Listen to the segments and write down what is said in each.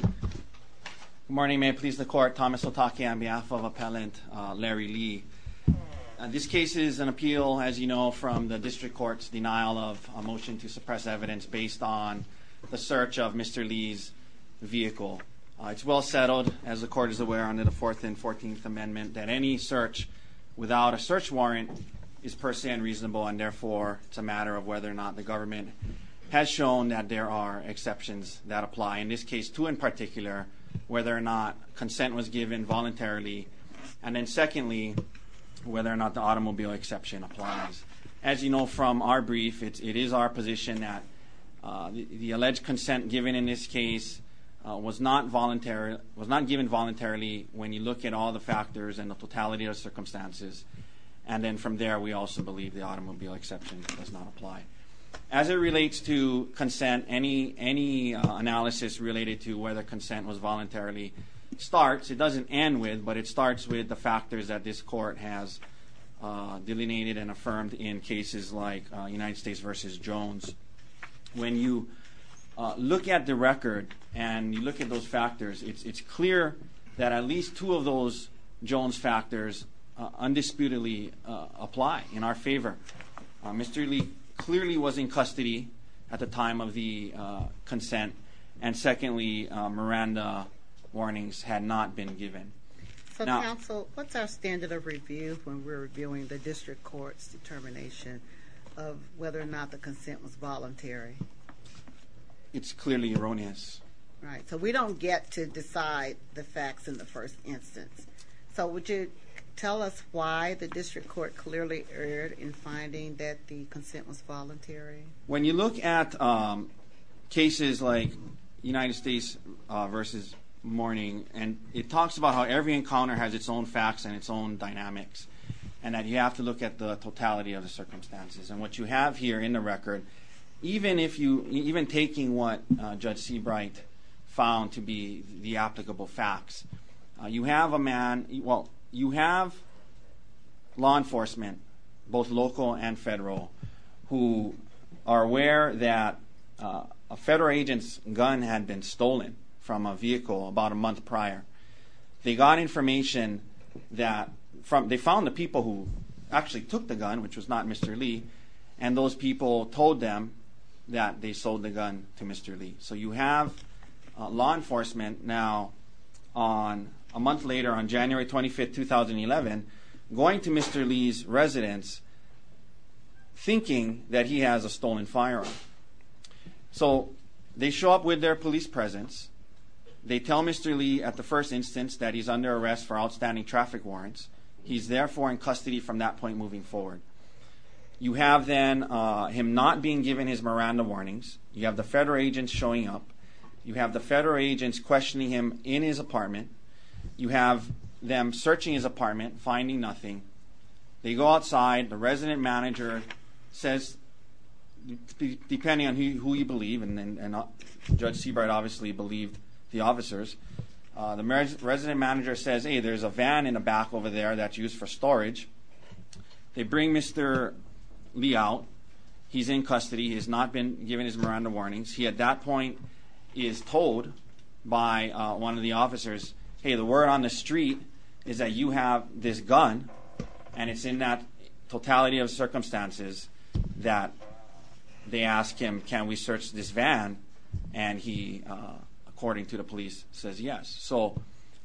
Good morning, may it please the court, Thomas Otake on behalf of Appellant Larry Lee. This case is an appeal, as you know, from the district court's denial of a motion to suppress evidence based on the search of Mr. Lee's vehicle. It's well settled, as the court is aware, under the 4th and 14th Amendment, that any search without a search warrant is per se unreasonable, and therefore it's a matter of whether or not the government has shown that there are exceptions that apply. In this case, two in particular, whether or not consent was given voluntarily, and then secondly, whether or not the automobile exception applies. As you know from our brief, it is our position that the alleged consent given in this case was not given voluntarily when you look at all the factors and the totality of circumstances, and then from there we also believe the automobile exception does not apply. As it relates to consent, any analysis related to whether consent was voluntarily starts, it doesn't end with, but it starts with the factors that this court has delineated and affirmed in cases like United States v. Jones. When you look at the record and you look at those factors, it's clear that at least two of those Jones factors undisputedly apply in our favor. Mr. Lee clearly was in custody at the time of the consent, and secondly, Miranda warnings had not been given. So, counsel, what's our standard of review when we're reviewing the district court's determination of whether or not the consent was voluntary? It's clearly erroneous. Right, so we don't get to decide the facts in the first instance. So would you tell us why the district court clearly erred in finding that the consent was voluntary? When you look at cases like United States v. Mourning, it talks about how every encounter has its own facts and its own dynamics, and that you have to look at the totality of the circumstances. And what you have here in the record, even taking what Judge Seabright found to be the applicable facts, you have law enforcement, both local and federal, who are aware that a federal agent's gun had been stolen from a vehicle about a month prior. They found the people who actually took the gun, which was not Mr. Lee, and those people told them that they sold the gun to Mr. Lee. So you have law enforcement now, a month later on January 25, 2011, going to Mr. Lee's residence thinking that he has a stolen firearm. So they show up with their police presence. They tell Mr. Lee at the first instance that he's under arrest for outstanding traffic warrants. He's therefore in custody from that point moving forward. You have then him not being given his Miranda warnings. You have the federal agents showing up. You have the federal agents questioning him in his apartment. You have them searching his apartment, finding nothing. They go outside. The resident manager says, depending on who you believe, and Judge Seabright obviously believed the officers, the resident manager says, hey, there's a van in the back over there that's used for storage. They bring Mr. Lee out. He's in custody. He has not been given his Miranda warnings. He at that point is told by one of the officers, hey, the word on the street is that you have this gun, and it's in that totality of circumstances that they ask him, can we search this van? And he, according to the police, says yes. So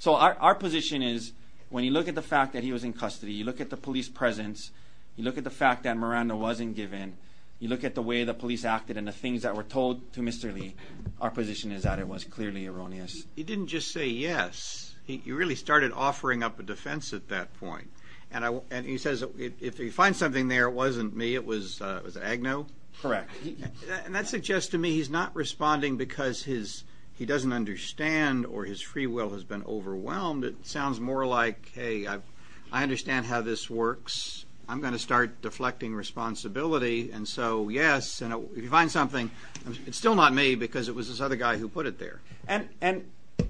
our position is when you look at the fact that he was in custody, you look at the police presence, you look at the fact that Miranda wasn't given, you look at the way the police acted and the things that were told to Mr. Lee, our position is that it was clearly erroneous. He didn't just say yes. He really started offering up a defense at that point. And he says if he finds something there, it wasn't me, it was Agnew? Correct. And that suggests to me he's not responding because he doesn't understand or his free will has been overwhelmed. It sounds more like, hey, I understand how this works. I'm going to start deflecting responsibility. And so, yes, if you find something, it's still not me because it was this other guy who put it there. And,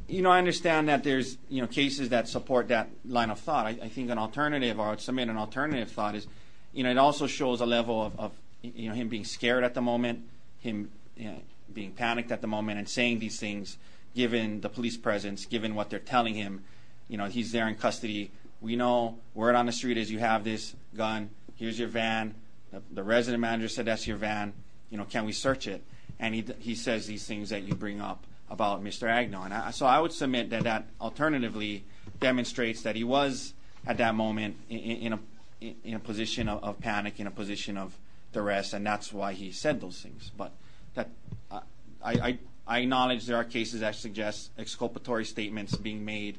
you know, I understand that there's cases that support that line of thought. I think an alternative, or I would submit an alternative thought is, you know, it also shows a level of him being scared at the moment, him being panicked at the moment and saying these things given the police presence, given what they're telling him. You know, he's there in custody. We know word on the street is you have this gun. Here's your van. The resident manager said that's your van. You know, can we search it? And he says these things that you bring up about Mr. Agnew. So I would submit that that alternatively demonstrates that he was at that moment in a position of panic, in a position of duress, and that's why he said those things. But I acknowledge there are cases that suggest exculpatory statements being made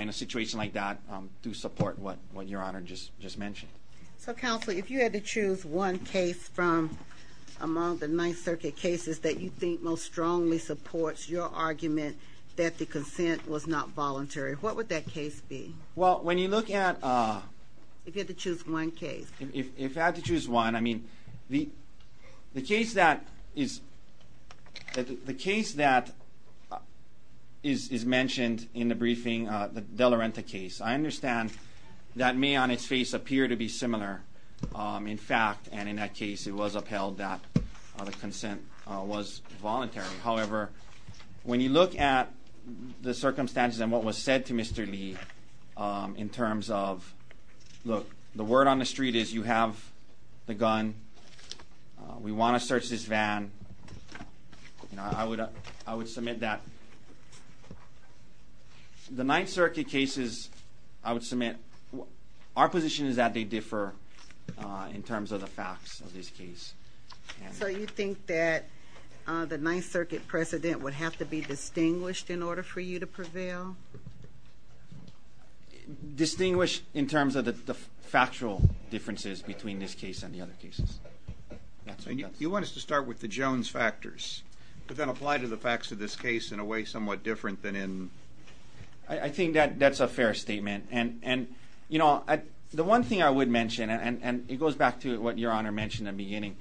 in a situation like that to support what Your Honor just mentioned. So, Counselor, if you had to choose one case from among the Ninth Circuit cases that you think most strongly supports your argument that the consent was not voluntary, what would that case be? Well, when you look at... If you had to choose one case. If I had to choose one, I mean, the case that is mentioned in the briefing, the De La Renta case, I understand that may on its face appear to be similar. In fact, and in that case, it was upheld that the consent was voluntary. However, when you look at the circumstances and what was said to Mr. Lee in terms of, look, the word on the street is you have the gun. We want to search this van. I would submit that the Ninth Circuit cases, I would submit our position is that they differ in terms of the facts of this case. So you think that the Ninth Circuit precedent would have to be distinguished in order for you to prevail? Distinguish in terms of the factual differences between this case and the other cases. And you want us to start with the Jones factors, but then apply to the facts of this case in a way somewhat different than in... I think that that's a fair statement. And, you know, the one thing I would mention, and it goes back to what Your Honor mentioned at the beginning,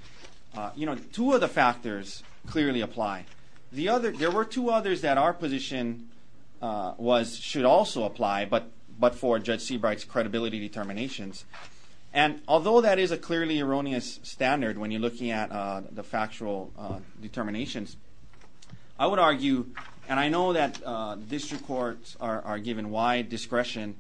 you know, two of the factors clearly apply. There were two others that our position should also apply, but for Judge Seabright's credibility determinations. And although that is a clearly erroneous standard when you're looking at the factual determinations, I would argue, and I know that district courts are given wide discretion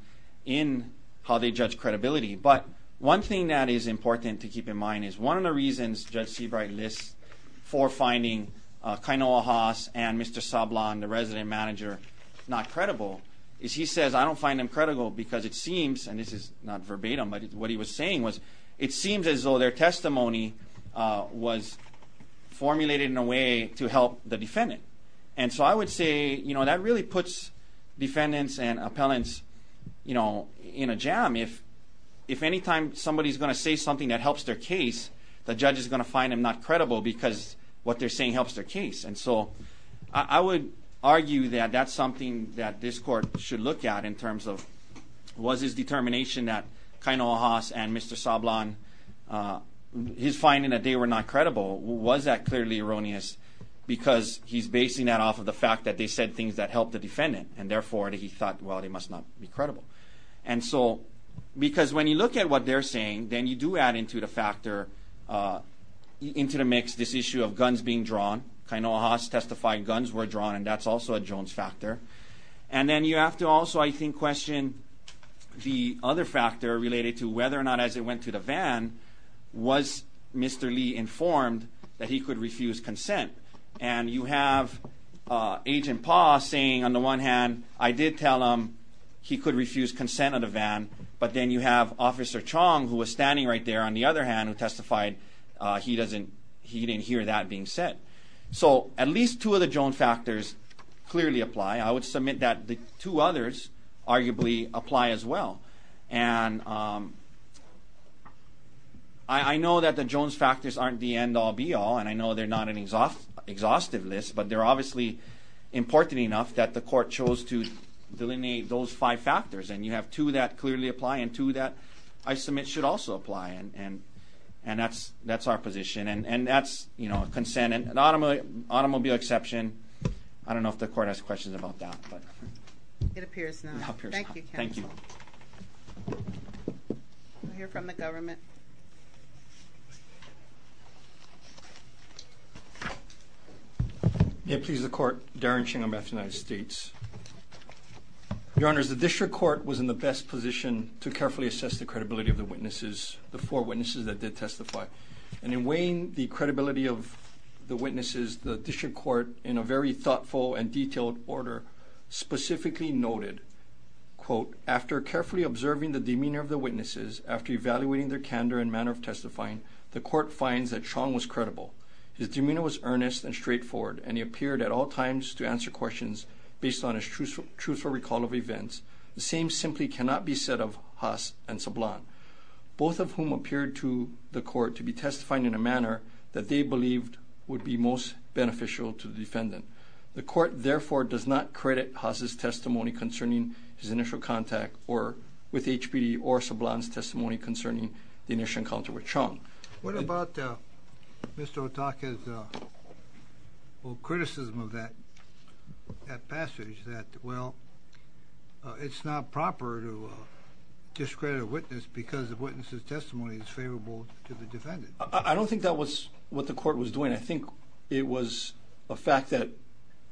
in how they judge credibility, but one thing that is important to keep in mind is one of the reasons Judge Seabright lists for finding Kainoa Haas and Mr. Sablan, the resident manager, not credible is he says, I don't find them credible because it seems, and this is not verbatim, but what he was saying was it seems as though their testimony was formulated in a way to help the defendant. And so I would say, you know, that really puts defendants and appellants, you know, in a jam. If anytime somebody's going to say something that helps their case, the judge is going to find them not credible because what they're saying helps their case. And so I would argue that that's something that this court should look at in terms of, was his determination that Kainoa Haas and Mr. Sablan, his finding that they were not credible, was that clearly erroneous because he's basing that off of the fact that they said things that helped the defendant and therefore he thought, well, they must not be credible. And so because when you look at what they're saying, then you do add into the factor, into the mix, this issue of guns being drawn. Kainoa Haas testified guns were drawn, and that's also a Jones factor. And then you have to also, I think, question the other factor related to whether or not as they went to the van, was Mr. Lee informed that he could refuse consent? And you have Agent Pa saying, on the one hand, I did tell him he could refuse consent of the van, but then you have Officer Chong, who was standing right there, on the other hand, who testified he didn't hear that being said. So at least two of the Jones factors clearly apply. I would submit that the two others arguably apply as well. And I know that the Jones factors aren't the end-all, be-all, and I know they're not an exhaustive list, but they're obviously important enough that the court chose to delineate those five factors. And you have two that clearly apply and two that I submit should also apply, and that's our position. And that's consent. An automobile exception, I don't know if the court has questions about that. It appears not. It appears not. Thank you, counsel. Thank you. We'll hear from the government. May it please the Court, Darren Ching on behalf of the United States. Your Honors, the district court was in the best position to carefully assess the credibility of the witnesses, the four witnesses that did testify. And in weighing the credibility of the witnesses, the district court, in a very thoughtful and detailed order, specifically noted, quote, after carefully observing the demeanor of the witnesses, after evaluating their candor and manner of testifying, the court finds that Chong was credible. His demeanor was earnest and straightforward, and he appeared at all times to answer questions based on his truthful recall of events. The same simply cannot be said of Haas and Sablan, both of whom appeared to the court to be testifying in a manner that they believed would be most beneficial to the defendant. The court, therefore, does not credit Haas' testimony concerning his initial contact with HPD or Sablan's testimony concerning the initial encounter with Chong. What about Mr. Otake's criticism of that passage, that, well, it's not proper to discredit a witness because the witness's testimony is favorable to the defendant? I don't think that was what the court was doing. I think it was a fact that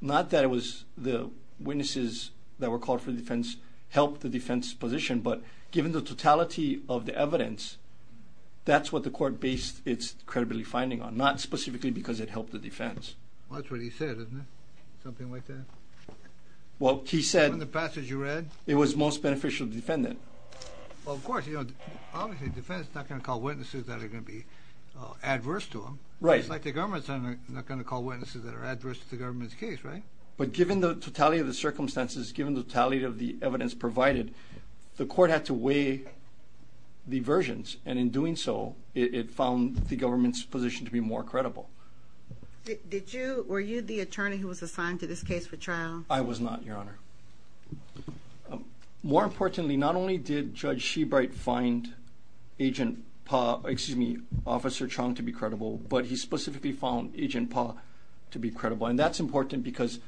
not that it was the witnesses that were called for defense helped the defense's position, but given the totality of the evidence, that's what the court based its credibility finding on, not specifically because it helped the defense. Well, that's what he said, isn't it, something like that? Well, he said... In the passage you read? It was most beneficial to the defendant. Well, of course, you know, obviously the defendant's not going to call witnesses that are going to be adverse to him. Right. Just like the government's not going to call witnesses that are adverse to the government's case, right? But given the totality of the circumstances, given the totality of the evidence provided, the court had to weigh the versions, and in doing so, it found the government's position to be more credible. Did you, were you the attorney who was assigned to this case for trial? I was not, Your Honor. More importantly, not only did Judge Shebright find Agent Pa, excuse me, Officer Chong to be credible, but he specifically found Agent Pa to be credible, and that's important because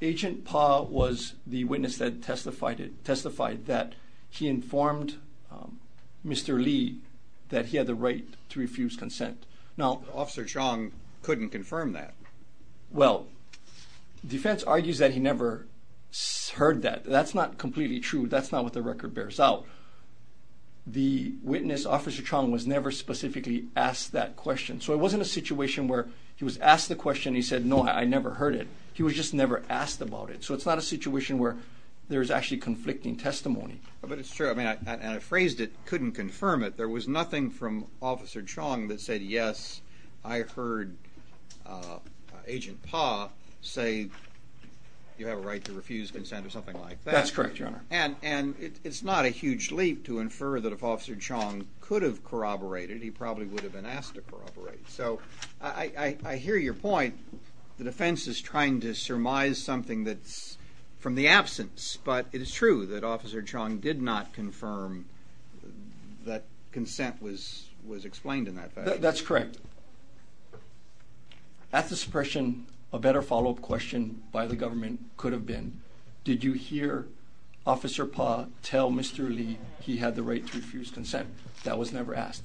Agent Pa was the witness that testified that he informed Mr. Lee that he had the right to refuse consent. Now... Officer Chong couldn't confirm that. Well, defense argues that he never heard that. That's not completely true. That's not what the record bears out. The witness, Officer Chong, was never specifically asked that question. So it wasn't a situation where he was asked the question and he said, no, I never heard it. He was just never asked about it. So it's not a situation where there's actually conflicting testimony. But it's true. I mean, and I phrased it, couldn't confirm it. There was nothing from Officer Chong that said, yes, I heard Agent Pa say you have a right to refuse consent or something like that. That's correct, Your Honor. And it's not a huge leap to infer that if Officer Chong could have corroborated, he probably would have been asked to corroborate. So I hear your point. The defense is trying to surmise something that's from the absence. But it is true that Officer Chong did not confirm that consent was explained in that fashion. That's correct. At the suppression, a better follow-up question by the government could have been, did you hear Officer Pa tell Mr. Lee he had the right to refuse consent? That was never asked.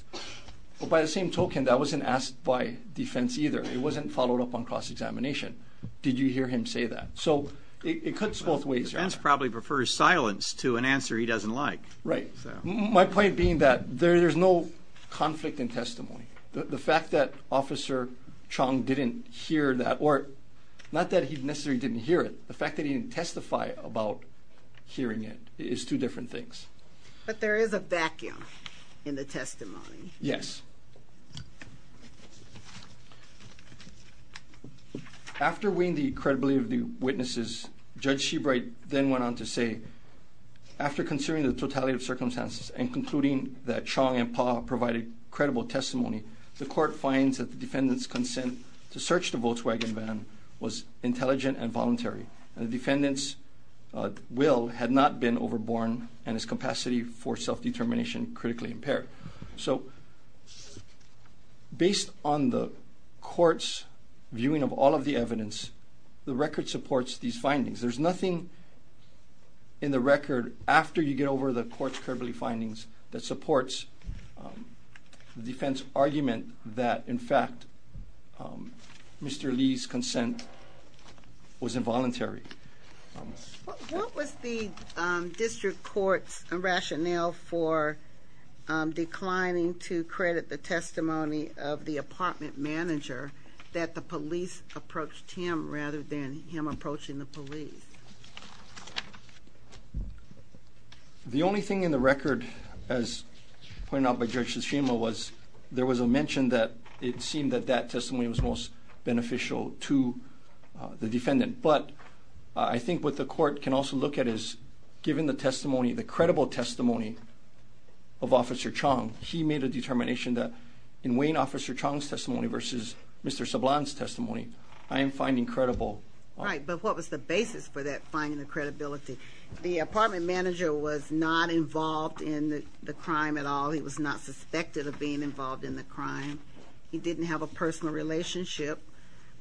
But by the same token, that wasn't asked by defense either. It wasn't followed up on cross-examination. Did you hear him say that? So it cuts both ways, Your Honor. The defense probably prefers silence to an answer he doesn't like. Right. My point being that there's no conflict in testimony. The fact that Officer Chong didn't hear that, or not that he necessarily didn't hear it, the fact that he didn't testify about hearing it is two different things. But there is a vacuum in the testimony. Yes. After weighing the credibility of the witnesses, Judge Shebright then went on to say, after considering the totality of circumstances and concluding that Chong and Pa provided credible testimony, the court finds that the defendant's consent to search the Volkswagen van was intelligent and voluntary, and the defendant's will had not been overborne and his capacity for self-determination critically impaired. Right. So based on the court's viewing of all of the evidence, the record supports these findings. There's nothing in the record after you get over the court's credibly findings that supports the defense argument that, in fact, Mr. Lee's consent was involuntary. What was the district court's rationale for declining to credit the testimony of the apartment manager that the police approached him rather than him approaching the police? The only thing in the record, as pointed out by Judge Tsushima, was there was a mention that it seemed that that testimony was most beneficial to the defendant. But I think what the court can also look at is, given the testimony, the credible testimony of Officer Chong, he made a determination that, in weighing Officer Chong's testimony versus Mr. Sablan's testimony, I am finding credible. Right, but what was the basis for that finding of credibility? The apartment manager was not involved in the crime at all. He was not suspected of being involved in the crime. He didn't have a personal relationship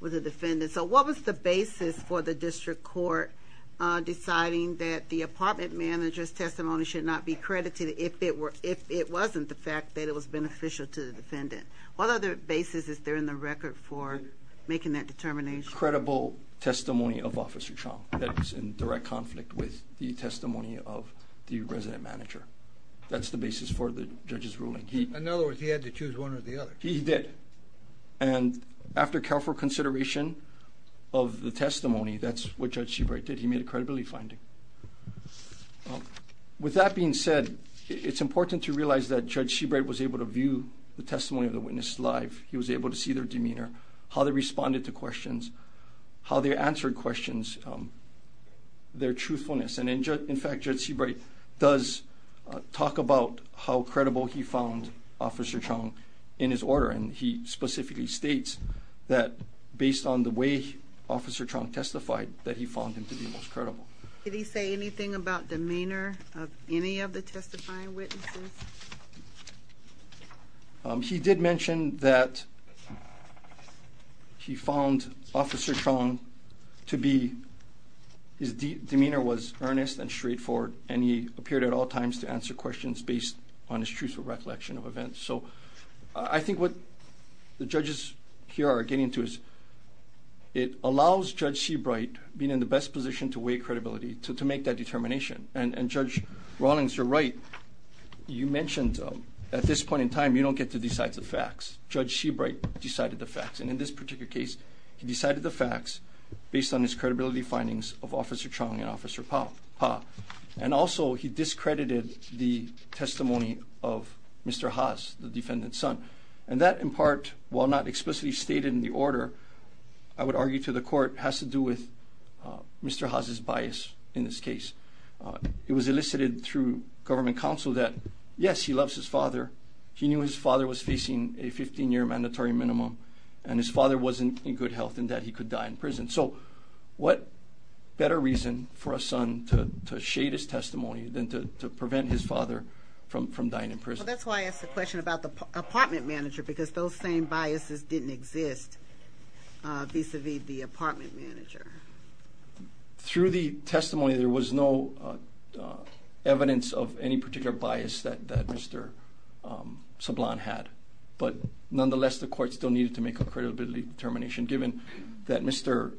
with the defendant. So what was the basis for the district court deciding that the apartment manager's testimony should not be credited if it wasn't the fact that it was beneficial to the defendant? What other basis is there in the record for making that determination? Credible testimony of Officer Chong that was in direct conflict with the testimony of the resident manager. That's the basis for the judge's ruling. In other words, he had to choose one or the other. He did. And after careful consideration of the testimony, that's what Judge Seabright did. He made a credibility finding. With that being said, it's important to realize that Judge Seabright was able to view the testimony of the witness live. He was able to see their demeanor, how they responded to questions, how they answered questions, their truthfulness. And, in fact, Judge Seabright does talk about how credible he found Officer Chong in his ordering. And he specifically states that, based on the way Officer Chong testified, that he found him to be most credible. Did he say anything about demeanor of any of the testifying witnesses? He did mention that he found Officer Chong to be – his demeanor was earnest and straightforward, and he appeared at all times to answer questions based on his truthful recollection of events. So I think what the judges here are getting to is it allows Judge Seabright being in the best position to weigh credibility, to make that determination. And, Judge Rawlings, you're right. You mentioned at this point in time you don't get to decide the facts. Judge Seabright decided the facts. And in this particular case, he decided the facts based on his credibility findings of Officer Chong and Officer Pa. And, also, he discredited the testimony of Mr. Haas, the defendant's son. And that, in part, while not explicitly stated in the order, I would argue to the court, has to do with Mr. Haas' bias in this case. It was elicited through government counsel that, yes, he loves his father. He knew his father was facing a 15-year mandatory minimum, and his father wasn't in good health and that he could die in prison. So what better reason for a son to shade his testimony than to prevent his father from dying in prison? Well, that's why I asked the question about the apartment manager, because those same biases didn't exist vis-à-vis the apartment manager. Through the testimony, there was no evidence of any particular bias that Mr. Sablon had. But, nonetheless, the court still needed to make a credibility determination given that Mr.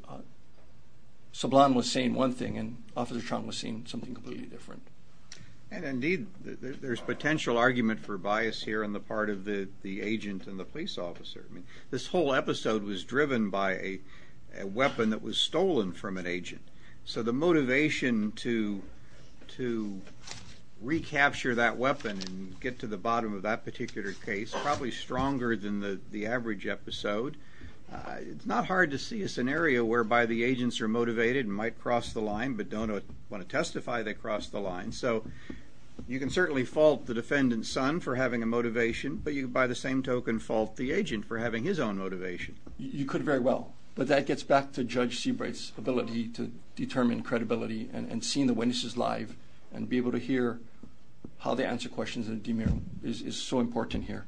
Sablon was saying one thing and Officer Chong was saying something completely different. And, indeed, there's potential argument for bias here on the part of the agent and the police officer. I mean, this whole episode was driven by a weapon that was stolen from an agent. So the motivation to recapture that weapon and get to the bottom of that particular case is probably stronger than the average episode. It's not hard to see a scenario whereby the agents are motivated and might cross the line but don't want to testify they crossed the line. So you can certainly fault the defendant's son for having a motivation, but you, by the same token, fault the agent for having his own motivation. You could very well, but that gets back to Judge Seabright's ability to determine credibility and seeing the witnesses live and be able to hear how they answer questions in a DMIR is so important here.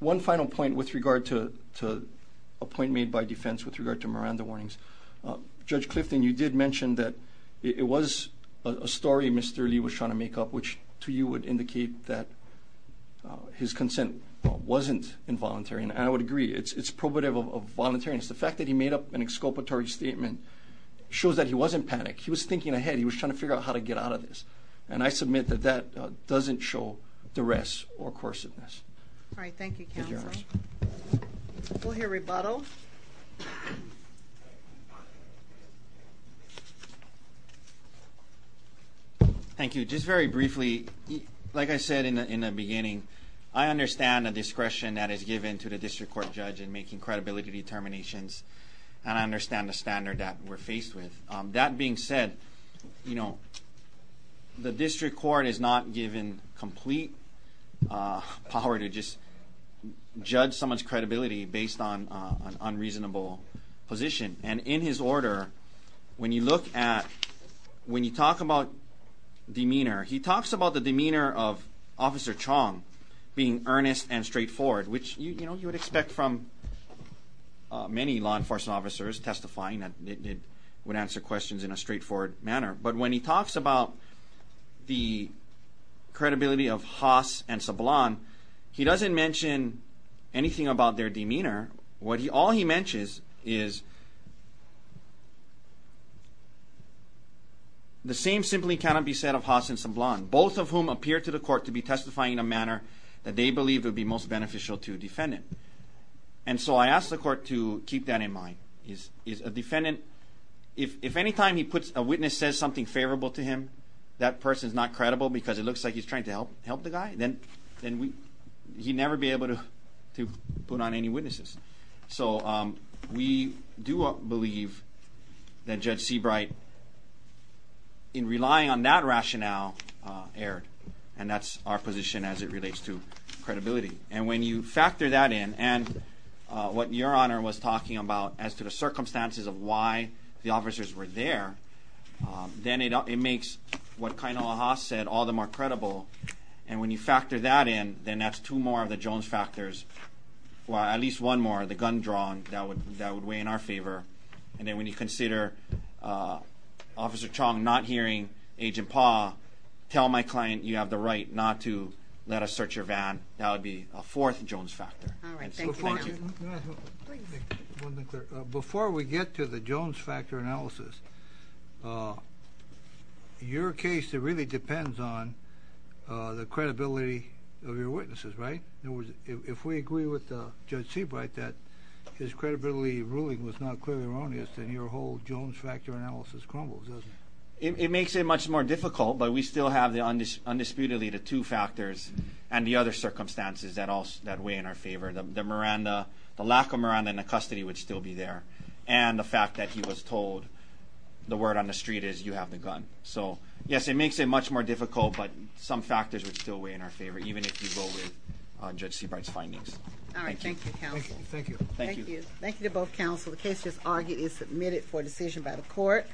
One final point with regard to a point made by defense with regard to Miranda warnings. Judge Clifton, you did mention that it was a story Mr. Lee was trying to make up which to you would indicate that his consent wasn't involuntary. And I would agree, it's probative of voluntariness. The fact that he made up an exculpatory statement shows that he wasn't panicked. He was thinking ahead. He was trying to figure out how to get out of this. And I submit that that doesn't show duress or coerciveness. All right. Thank you, counsel. We'll hear rebuttal. Thank you. Just very briefly, like I said in the beginning, I understand the discretion that is given to the district court judge in making credibility determinations. And I understand the standard that we're faced with. That being said, you know, the district court is not given complete power to just judge someone's credibility based on an unreasonable position. And in his order, when you look at, when you talk about demeanor, he talks about the demeanor of Officer Chong being earnest and straightforward, which, you know, you would expect from many law enforcement officers testifying that would answer questions in a straightforward manner. But when he talks about the credibility of Haas and Sablan, he doesn't mention anything about their demeanor. All he mentions is the same simply cannot be said of Haas and Sablan, both of whom appear to the court to be testifying in a manner that they believe would be most beneficial to a defendant. And so I ask the court to keep that in mind. A defendant, if any time a witness says something favorable to him, that person is not credible because it looks like he's trying to help the guy, then he'd never be able to put on any witnesses. So we do believe that Judge Seabright, in relying on that rationale, erred. And that's our position as it relates to credibility. And when you factor that in, and what Your Honor was talking about as to the circumstances of why the officers were there, then it makes what Kainala Haas said all the more credible. And when you factor that in, then that's two more of the Jones factors, or at least one more, the gun drawn, that would weigh in our favor. And then when you consider Officer Chong not hearing Agent Pa tell my client, you have the right not to let us search your van, that would be a fourth Jones factor. Before we get to the Jones factor analysis, your case really depends on the credibility of your witnesses, right? In other words, if we agree with Judge Seabright that his credibility ruling was not clearly erroneous, then your whole Jones factor analysis crumbles, doesn't it? It makes it much more difficult, but we still have undisputedly the two factors and the other circumstances that weigh in our favor. The lack of Miranda in the custody would still be there, and the fact that he was told, the word on the street is, you have the gun. So yes, it makes it much more difficult, but some factors would still weigh in our favor, even if you go with Judge Seabright's findings. Thank you. Thank you. Thank you to both counsel. The case is argued and submitted for decision by the court.